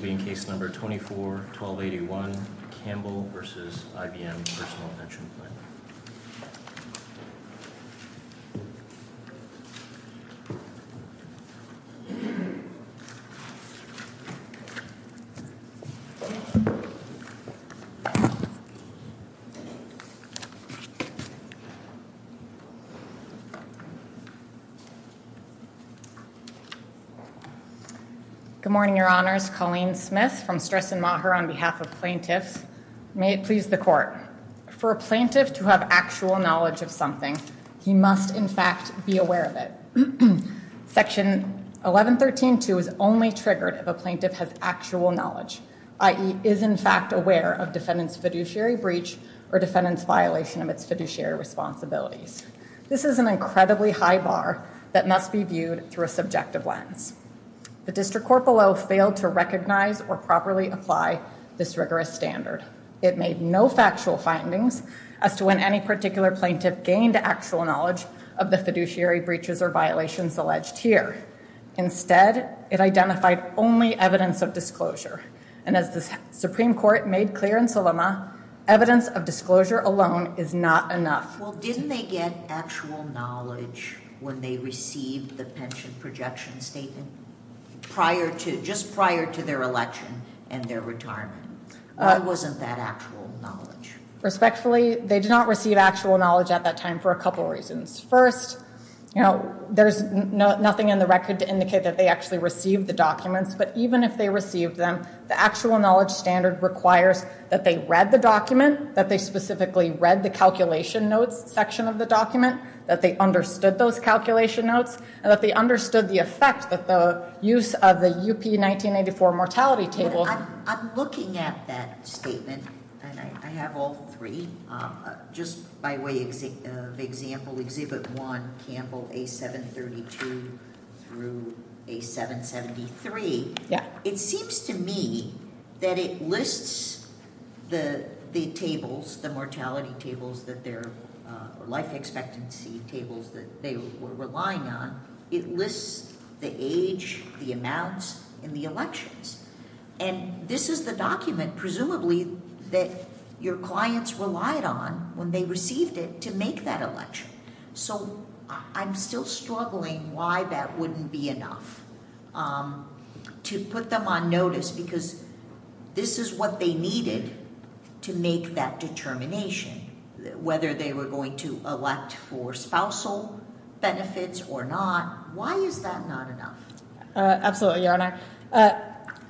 This will be in case number 24-1281, Campbell v. IBM Personal Invention Plan. Please stand by. For a plaintiff to have actual knowledge of something, he must in fact be aware of it. Section 1113-2 is only triggered if a plaintiff has actual knowledge, i.e., is in fact aware of defendant's fiduciary breach or defendant's violation of its fiduciary responsibilities. This is an incredibly high bar that must be viewed through a subjective lens. The District Court below failed to recognize or properly apply this rigorous standard. It made no factual findings as to when any particular plaintiff gained actual knowledge of the fiduciary breaches or violations alleged here. Instead, it identified only evidence of disclosure. And as the Supreme Court made clear in Sulema, evidence of disclosure alone is not enough. Well, didn't they get actual knowledge when they received the pension projection statement prior to, just prior to their election and their retirement? Why wasn't that actual knowledge? Respectfully, they did not receive actual knowledge at that time for a couple of reasons. First, you know, there's nothing in the record to indicate that they actually received the documents. But even if they received them, the actual knowledge standard requires that they read the document, that they specifically read the calculation notes section of the document, that they understood those calculation notes, and that they understood the effect that the use of the UP 1984 mortality table- Just by way of example, Exhibit 1, Campbell, A732 through A773. Yeah. It seems to me that it lists the tables, the mortality tables that their life expectancy tables that they were relying on. It lists the age, the amounts, and the elections. And this is the document, presumably, that your clients relied on when they received it to make that election. So I'm still struggling why that wouldn't be enough to put them on notice because this is what they needed to make that determination, whether they were going to elect for spousal benefits or not. Why is that not enough? Absolutely, Your Honor.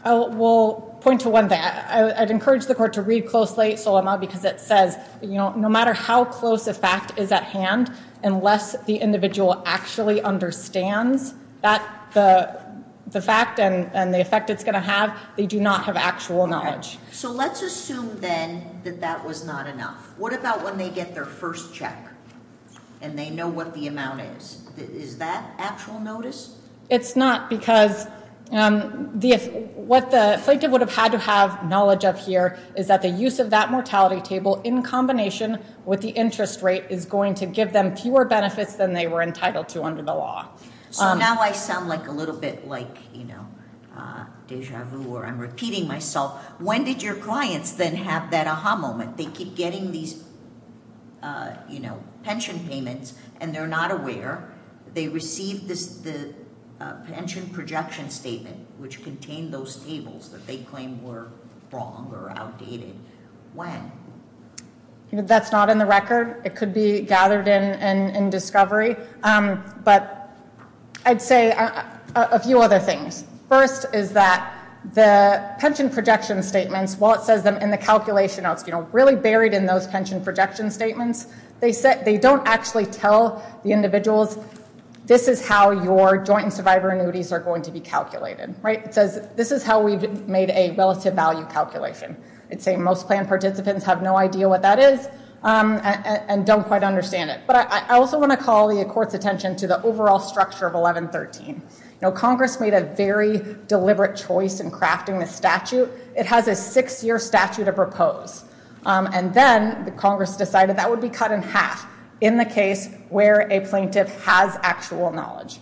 I will point to one thing. I'd encourage the court to read closely Solema because it says, you know, no matter how close a fact is at hand, unless the individual actually understands the fact and the effect it's going to have, they do not have actual knowledge. So let's assume, then, that that was not enough. What about when they get their first check and they know what the amount is? Is that actual notice? It's not because what the plaintiff would have had to have knowledge of here is that the use of that mortality table in combination with the interest rate is going to give them fewer benefits than they were entitled to under the law. So now I sound like a little bit like, you know, deja vu or I'm repeating myself. When did your clients then have that aha moment? They keep getting these, you know, pension payments and they're not aware. They received the pension projection statement, which contained those tables that they claimed were wrong or outdated. When? That's not in the record. It could be gathered in discovery. But I'd say a few other things. First is that the pension projection statements, while it says them in the calculation, you know, it's really buried in those pension projection statements, they don't actually tell the individuals this is how your joint and survivor annuities are going to be calculated. Right? It says this is how we've made a relative value calculation. I'd say most plan participants have no idea what that is and don't quite understand it. But I also want to call the court's attention to the overall structure of 1113. You know, Congress made a very deliberate choice in crafting the statute. It has a six-year statute to propose. And then Congress decided that would be cut in half in the case where a plaintiff has actual knowledge.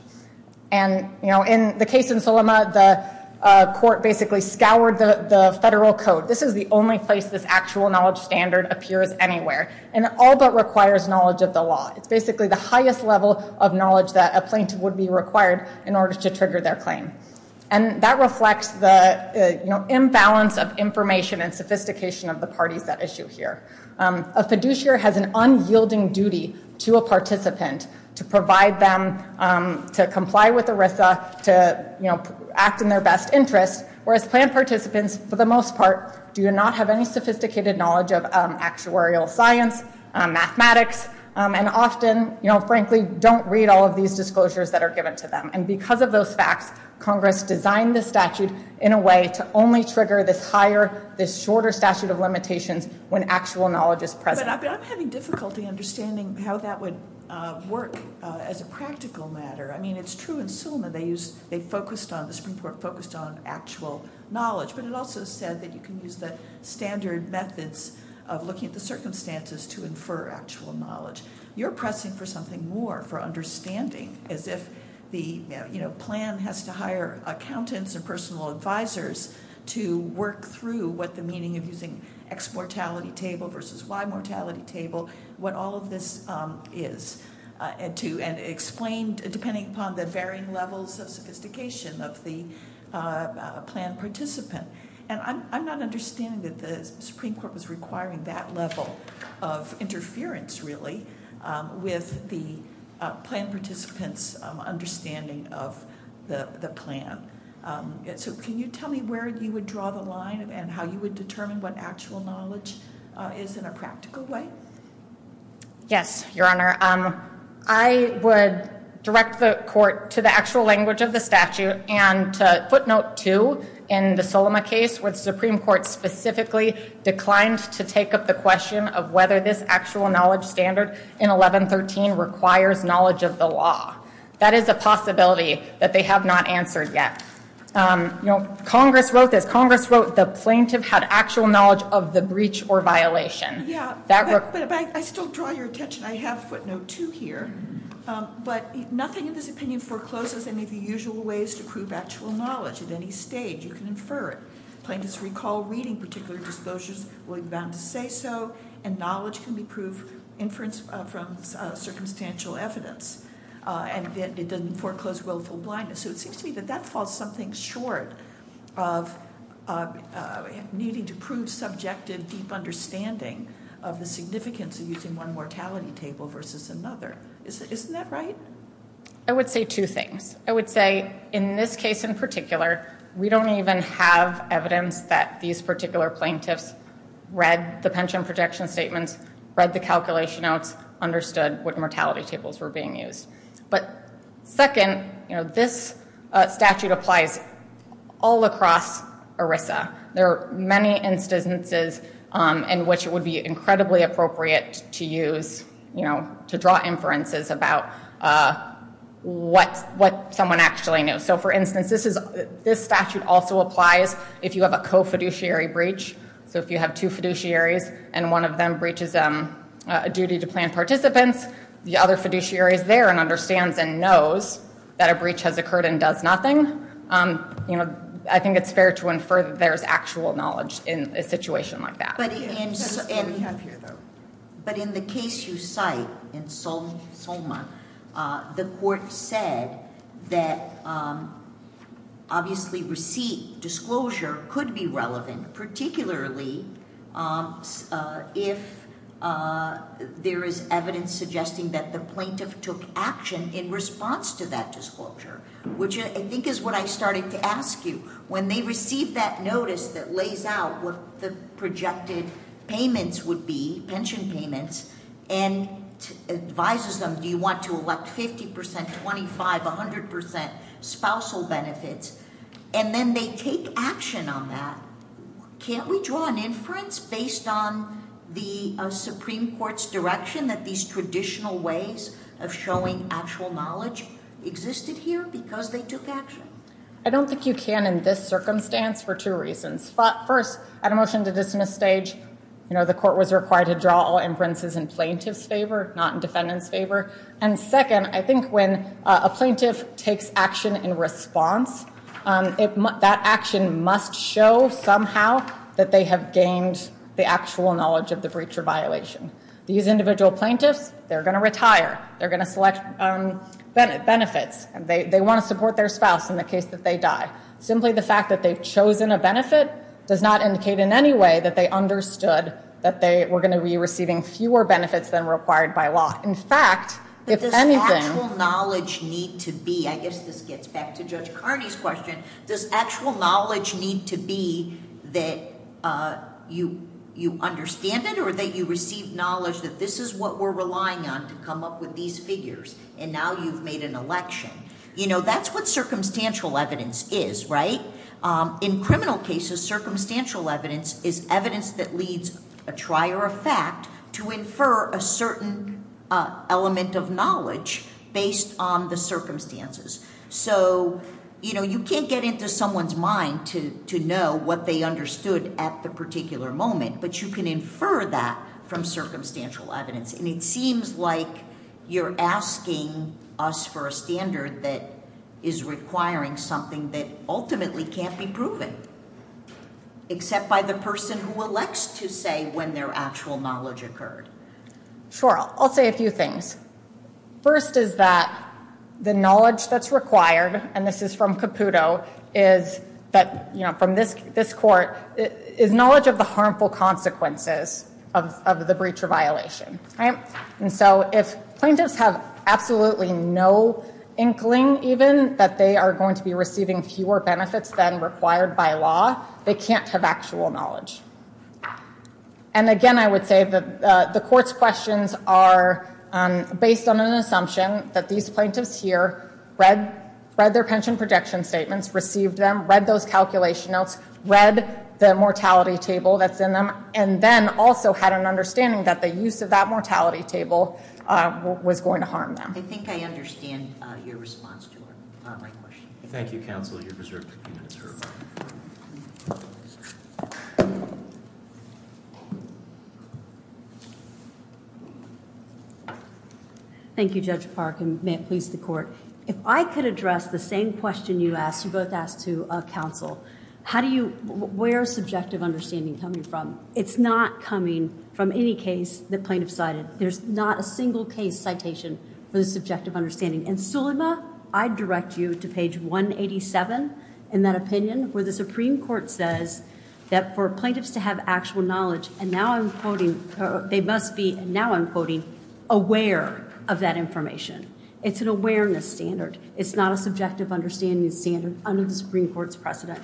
And, you know, in the case in Sulema, the court basically scoured the federal code. This is the only place this actual knowledge standard appears anywhere. And it all but requires knowledge of the law. It's basically the highest level of knowledge that a plaintiff would be required in order to trigger their claim. And that reflects the imbalance of information and sophistication of the parties at issue here. A fiduciary has an unyielding duty to a participant to provide them to comply with ERISA, to, you know, act in their best interest. Whereas plan participants, for the most part, do not have any sophisticated knowledge of actuarial science, mathematics, and often, you know, frankly, don't read all of these disclosures that are given to them. And because of those facts, Congress designed this statute in a way to only trigger this higher, this shorter statute of limitations when actual knowledge is present. But I'm having difficulty understanding how that would work as a practical matter. I mean, it's true in Sulema they focused on, the Supreme Court focused on actual knowledge. But it also said that you can use the standard methods of looking at the circumstances to infer actual knowledge. You're pressing for something more, for understanding, as if the, you know, plan has to hire accountants and personal advisors to work through what the meaning of using X mortality table versus Y mortality table, what all of this is, and to explain, depending upon the varying levels of sophistication of the plan participant. And I'm not understanding that the Supreme Court was requiring that level of interference, really, with the plan participant's understanding of the plan. So can you tell me where you would draw the line and how you would determine what actual knowledge is in a practical way? Yes, Your Honor. I would direct the court to the actual language of the statute and to footnote two in the Sulema case where the Supreme Court specifically declined to take up the question of whether this actual knowledge standard in 1113 requires knowledge of the law. That is a possibility that they have not answered yet. You know, Congress wrote this. Congress wrote the plaintiff had actual knowledge of the breach or violation. Yeah, but I still draw your attention. I have footnote two here. But nothing in this opinion forecloses any of the usual ways to prove actual knowledge at any stage. You can infer it. Plaintiffs recall reading particular disclosures will be bound to say so, and knowledge can be proved inference from circumstantial evidence. And it doesn't foreclose willful blindness. So it seems to me that that falls something short of needing to prove subjective, deep understanding of the significance of using one mortality table versus another. Isn't that right? I would say two things. I would say in this case in particular, we don't even have evidence that these particular plaintiffs read the pension protection statements, read the calculation notes, understood what mortality tables were being used. But second, you know, this statute applies all across ERISA. There are many instances in which it would be incredibly appropriate to use, you know, to draw inferences about what someone actually knew. So, for instance, this statute also applies if you have a co-fiduciary breach. So if you have two fiduciaries and one of them breaches a duty to plan participants, the other fiduciary is there and understands and knows that a breach has occurred and does nothing, you know, I think it's fair to infer that there's actual knowledge in a situation like that. But in the case you cite in Soma, the court said that obviously receipt disclosure could be relevant, particularly if there is evidence suggesting that the plaintiff took action in response to that disclosure, which I think is what I started to ask you. When they receive that notice that lays out what the projected payments would be, pension payments, and advises them do you want to elect 50 percent, 25, 100 percent spousal benefits, and then they take action on that, can't we draw an inference based on the Supreme Court's direction that these traditional ways of showing actual knowledge existed here because they took action? I don't think you can in this circumstance for two reasons. First, at a motion to dismiss stage, you know, the court was required to draw all inferences in plaintiff's favor, not in defendant's favor. And second, I think when a plaintiff takes action in response, that action must show somehow that they have gained the actual knowledge of the breacher violation. These individual plaintiffs, they're going to retire. They're going to select benefits. They want to support their spouse in the case that they die. Simply the fact that they've chosen a benefit does not indicate in any way that they understood that they were going to be receiving fewer benefits than required by law. In fact, if anything- Does actual knowledge need to be, I guess this gets back to Judge Carney's question, does actual knowledge need to be that you understand it or that you receive knowledge that this is what we're relying on to come up with these figures and now you've made an election? You know, that's what circumstantial evidence is, right? In criminal cases, circumstantial evidence is evidence that leads a trier of fact to infer a certain element of knowledge based on the circumstances. So, you know, you can't get into someone's mind to know what they understood at the particular moment, but you can infer that from circumstantial evidence. And it seems like you're asking us for a standard that is requiring something that ultimately can't be proven, except by the person who elects to say when their actual knowledge occurred. Sure, I'll say a few things. First is that the knowledge that's required, and this is from Caputo, is that, you know, from this court, is knowledge of the harmful consequences of the breach or violation. And so if plaintiffs have absolutely no inkling even that they are going to be receiving fewer benefits than required by law, they can't have actual knowledge. And again, I would say that the court's questions are based on an assumption that these plaintiffs here read their pension projection statements, received them, read those calculation notes, read the mortality table that's in them, and then also had an understanding that the use of that mortality table was going to harm them. I think I understand your response to my question. Thank you, counsel. You're reserved 15 minutes for rebuttal. Thank you, Judge Park, and may it please the court. If I could address the same question you asked, you both asked to counsel, where is subjective understanding coming from? It's not coming from any case the plaintiff cited. There's not a single case citation for the subjective understanding. And, Sulema, I direct you to page 187 in that opinion where the Supreme Court says that for plaintiffs to have actual knowledge, and now I'm quoting, they must be, and now I'm quoting, aware of that information. It's an awareness standard. It's not a subjective understanding standard under the Supreme Court's precedent.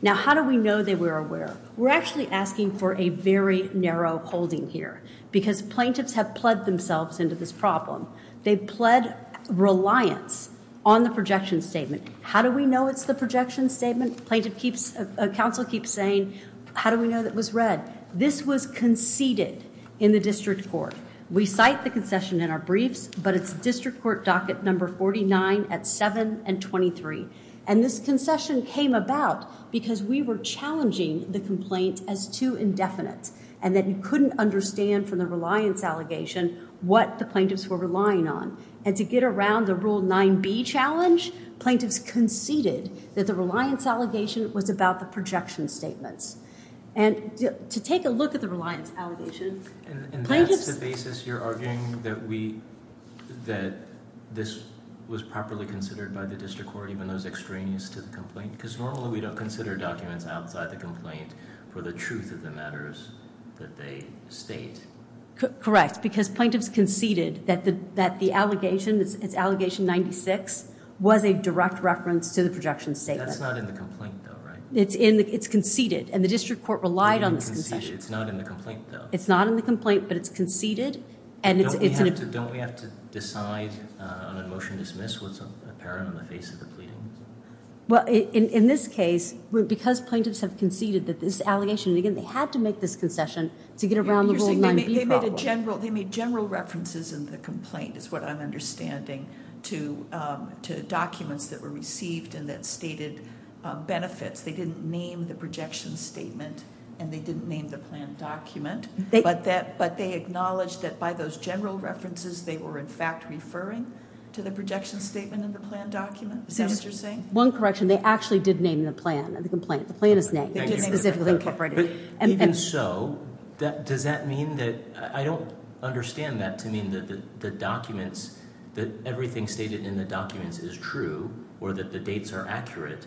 Now, how do we know they were aware? We're actually asking for a very narrow holding here because plaintiffs have pled themselves into this problem. They've pled reliance on the projection statement. How do we know it's the projection statement? Plaintiff keeps, counsel keeps saying, how do we know that it was read? This was conceded in the district court. We cite the concession in our briefs, but it's district court docket number 49 at 7 and 23. And this concession came about because we were challenging the complaint as too indefinite and that we couldn't understand from the reliance allegation what the plaintiffs were relying on. And to get around the Rule 9b challenge, plaintiffs conceded that the reliance allegation was about the projection statements. And to take a look at the reliance allegation, plaintiffs. And that's the basis you're arguing that we, that this was properly considered by the district court even though it's extraneous to the complaint? Because normally we don't consider documents outside the complaint for the truth of the matters that they state. Correct, because plaintiffs conceded that the allegation, it's allegation 96, was a direct reference to the projection statement. That's not in the complaint, though, right? It's conceded, and the district court relied on this concession. It's not in the complaint, though. It's not in the complaint, but it's conceded. Don't we have to decide on a motion to dismiss what's apparent on the face of the pleadings? Well, in this case, because plaintiffs have conceded that this allegation, again, they had to make this concession to get around the Rule 9b problem. They made general references in the complaint, is what I'm understanding, to documents that were received and that stated benefits. They didn't name the projection statement, and they didn't name the planned document. But they acknowledged that by those general references, they were, in fact, referring to the projection statement in the planned document. Is that what you're saying? One correction. They actually did name the plan in the complaint. The plan is named. It's specifically incorporated. Even so, does that mean that I don't understand that to mean that the documents, that everything stated in the documents is true or that the dates are accurate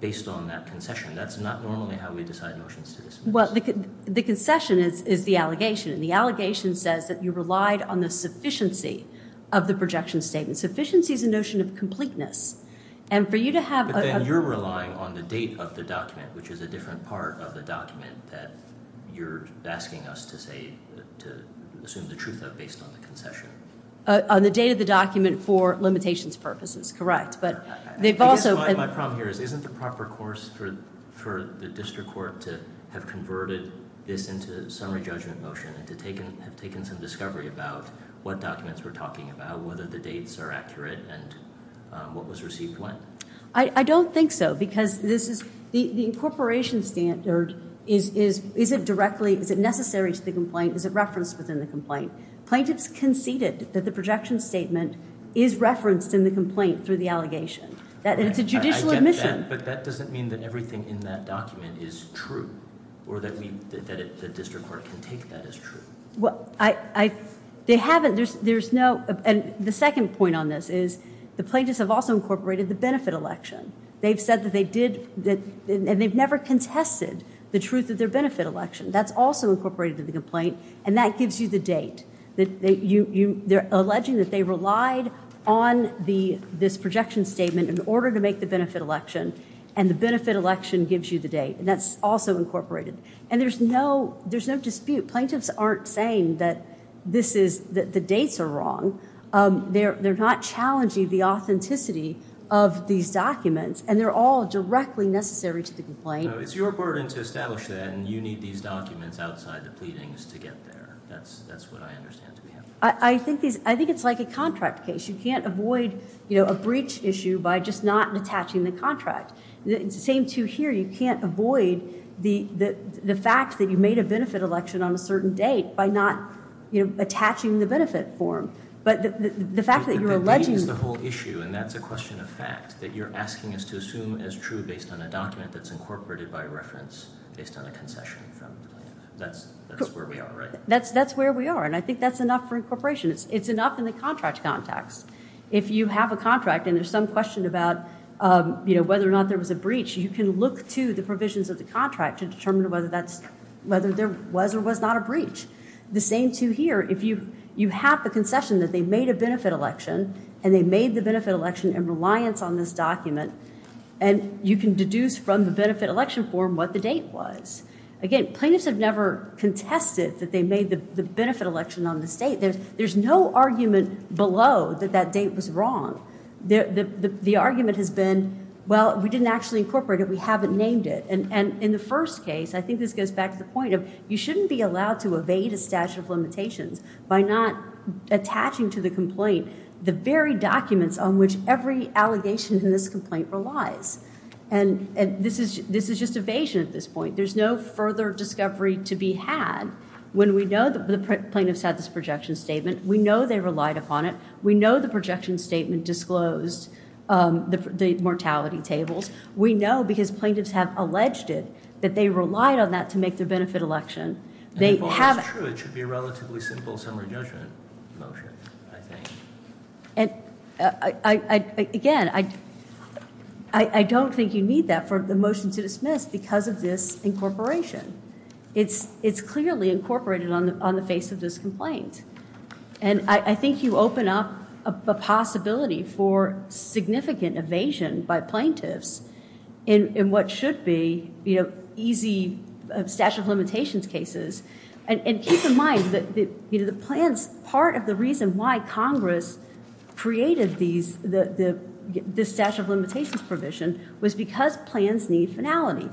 based on that concession. That's not normally how we decide motions to dismiss. Well, the concession is the allegation, and the allegation says that you relied on the sufficiency of the projection statement. Sufficiency is a notion of completeness, and for you to have a... But then you're relying on the date of the document, which is a different part of the document that you're asking us to say, to assume the truth of based on the concession. On the date of the document for limitations purposes, correct. But they've also... I guess my problem here is isn't the proper course for the district court to have converted this into a summary judgment motion and to have taken some discovery about what documents we're talking about, whether the dates are accurate, and what was received when. I don't think so because the incorporation standard isn't directly... Is it necessary to the complaint? Is it referenced within the complaint? Plaintiffs conceded that the projection statement is referenced in the complaint through the allegation. It's a judicial admission. But that doesn't mean that everything in that document is true or that the district court can take that as true. They haven't. There's no... And the second point on this is the plaintiffs have also incorporated the benefit election. They've said that they did... And they've never contested the truth of their benefit election. That's also incorporated in the complaint, and that gives you the date. They're alleging that they relied on this projection statement in order to make the benefit election, and the benefit election gives you the date, and that's also incorporated. And there's no dispute. Plaintiffs aren't saying that the dates are wrong. They're not challenging the authenticity of these documents, and they're all directly necessary to the complaint. No, it's your burden to establish that, and you need these documents outside the pleadings to get there. That's what I understand to be happening. I think it's like a contract case. You can't avoid a breach issue by just not attaching the contract. It's the same, too, here. You can't avoid the fact that you made a benefit election on a certain date by not attaching the benefit form. But the fact that you're alleging... The date is the whole issue, and that's a question of fact, that you're asking us to assume as true based on a document that's incorporated by reference based on a concession from the plaintiff. That's where we are, right? That's where we are, and I think that's enough for incorporation. It's enough in the contract context. If you have a contract and there's some question about whether or not there was a breach, you can look to the provisions of the contract to determine whether there was or was not a breach. The same, too, here. You have the concession that they made a benefit election, and they made the benefit election in reliance on this document, and you can deduce from the benefit election form what the date was. Again, plaintiffs have never contested that they made the benefit election on this date. There's no argument below that that date was wrong. The argument has been, well, we didn't actually incorporate it. We haven't named it. In the first case, I think this goes back to the point of you shouldn't be allowed to evade a statute of limitations by not attaching to the complaint the very documents on which every allegation in this complaint relies. This is just evasion at this point. There's no further discovery to be had when we know the plaintiffs had this projection statement. We know they relied upon it. We know the projection statement disclosed the mortality tables. We know because plaintiffs have alleged it that they relied on that to make their benefit election. It's true. It should be a relatively simple summary judgment motion, I think. Again, I don't think you need that for the motion to dismiss because of this incorporation. It's clearly incorporated on the face of this complaint. I think you open up a possibility for significant evasion by plaintiffs in what should be easy statute of limitations cases. Keep in mind that part of the reason why Congress created this statute of limitations provision was because plans need finality.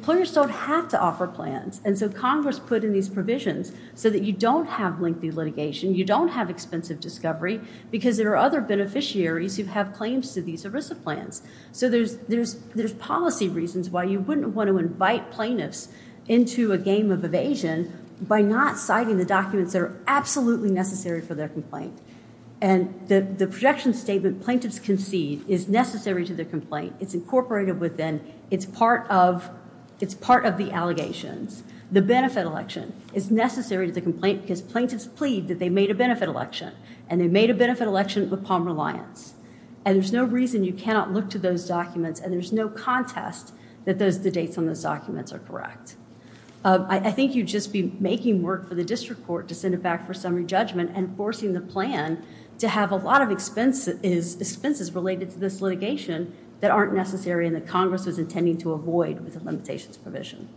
Players don't have to offer plans, and so Congress put in these provisions so that you don't have lengthy litigation, you don't have expensive discovery because there are other beneficiaries who have claims to these ERISA plans. So there's policy reasons why you wouldn't want to invite plaintiffs into a game of evasion by not citing the documents that are absolutely necessary for their complaint. And the projection statement plaintiffs concede is necessary to their complaint. It's incorporated within, it's part of the allegations. The benefit election is necessary to the complaint because plaintiffs plead that they made a benefit election, and they made a benefit election with Palmer Alliance. And there's no reason you cannot look to those documents, and there's no contest that the dates on those documents are correct. I think you'd just be making work for the district court to send it back for summary judgment and forcing the plan to have a lot of expenses related to this litigation that aren't necessary and that Congress was intending to avoid with the limitations provision.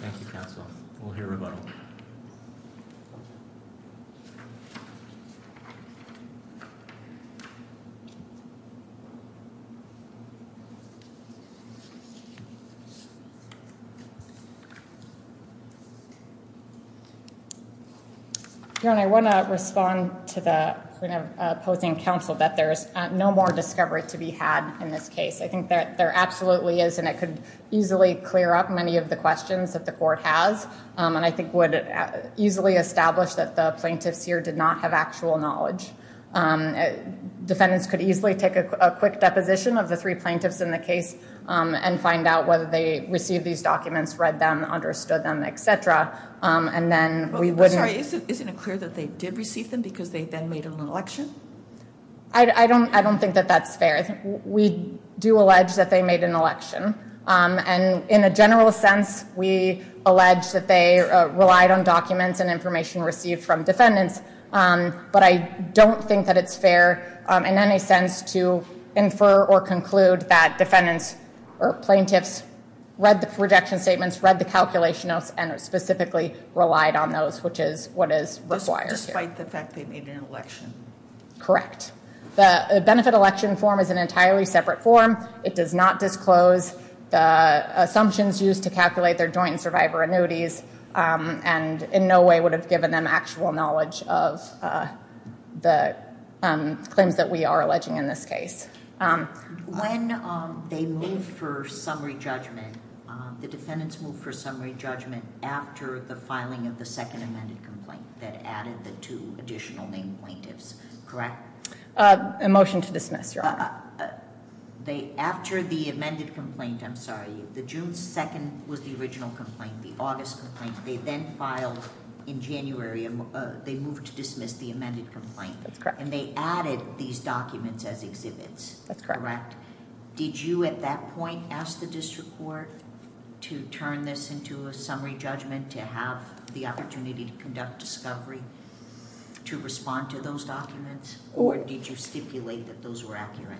Thank you, counsel. We'll hear rebuttal. I want to respond to the opposing counsel that there's no more discovery to be had in this case. I think there absolutely is, and it could easily clear up many of the questions that the court has. And I think it would easily establish that the plaintiffs here did not have actual knowledge. Defendants could easily take a quick deposition of the three plaintiffs in the case and find out whether they received these documents, read them, understood them, et cetera. Isn't it clear that they did receive them because they then made an election? I don't think that that's fair. We do allege that they made an election. And in a general sense, we allege that they relied on documents and information received from defendants. But I don't think that it's fair in any sense to infer or conclude that defendants or plaintiffs read the rejection statements, read the calculation notes, and specifically relied on those, which is what is required here. Despite the fact they made an election? Correct. The benefit election form is an entirely separate form. It does not disclose the assumptions used to calculate their joint survivor annuities and in no way would have given them actual knowledge of the claims that we are alleging in this case. When they move for summary judgment, the defendants move for summary judgment after the filing of the second amended complaint that added the two additional named plaintiffs, correct? A motion to dismiss, Your Honor. After the amended complaint, I'm sorry, the June 2nd was the original complaint, the August complaint. They then filed in January, they moved to dismiss the amended complaint. And they added these documents as exhibits, correct? Did you at that point ask the district court to turn this into a summary judgment to have the opportunity to conduct discovery to respond to those documents? Or did you stipulate that those were accurate?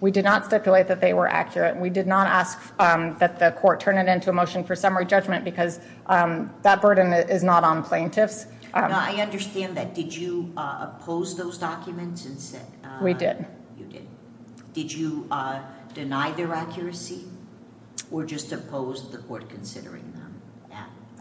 We did not stipulate that they were accurate. We did not ask that the court turn it into a motion for summary judgment because that burden is not on plaintiffs. I understand that. Did you oppose those documents? We did. You did. Did you deny their accuracy or just oppose the court considering them?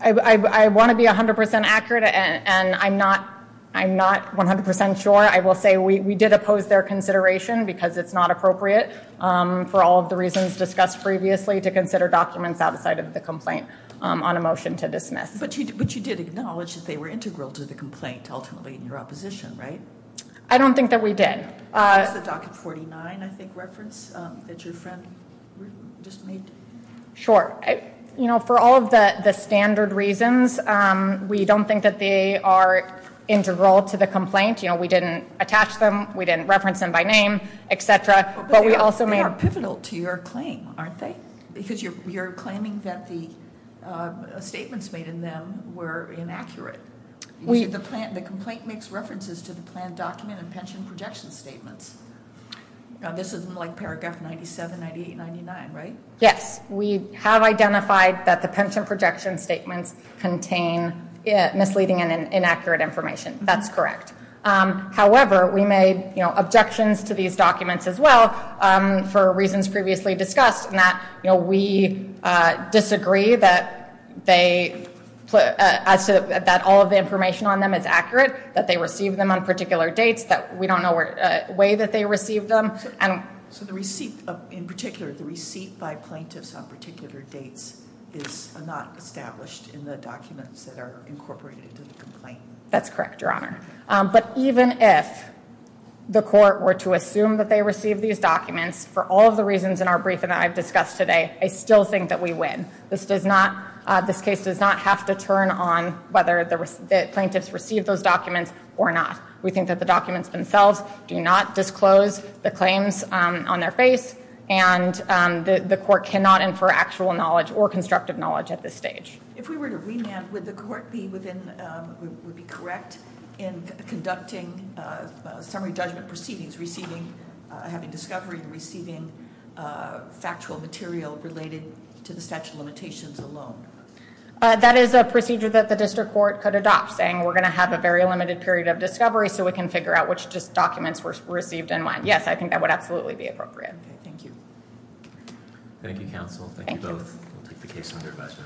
I want to be 100% accurate and I'm not 100% sure. I will say we did oppose their consideration because it's not appropriate for all of the reasons discussed previously to consider documents outside of the complaint on a motion to dismiss. But you did acknowledge that they were integral to the complaint ultimately in your opposition, right? I don't think that we did. Was the document 49, I think, referenced that your friend just made? Sure. You know, for all of the standard reasons, we don't think that they are integral to the complaint. You know, we didn't attach them, we didn't reference them by name, etc. But they are pivotal to your claim, aren't they? Because you're claiming that the statements made in them were inaccurate. The complaint makes references to the planned document and pension projection statements. This isn't like paragraph 97, 98, 99, right? Yes. We have identified that the pension projection statements contain misleading and inaccurate information. That's correct. However, we made objections to these documents as well for reasons previously discussed in that we disagree that all of the information on them is accurate, that they receive them on particular dates, that we don't know the way that they receive them. So in particular, the receipt by plaintiffs on particular dates is not established in the documents that are incorporated into the complaint. That's correct, Your Honor. But even if the court were to assume that they received these documents for all of the reasons in our briefing that I've discussed today, I still think that we win. This case does not have to turn on whether the plaintiffs received those documents or not. We think that the documents themselves do not disclose the claims on their face, and the court cannot infer actual knowledge or constructive knowledge at this stage. If we were to remand, would the court be correct in conducting summary judgment proceedings, having discovery and receiving factual material related to the statute of limitations alone? That is a procedure that the district court could adopt, saying we're going to have a very limited period of discovery so we can figure out which documents were received and when. Yes, I think that would absolutely be appropriate. Thank you. Thank you, counsel. Thank you both. We'll take the case under question.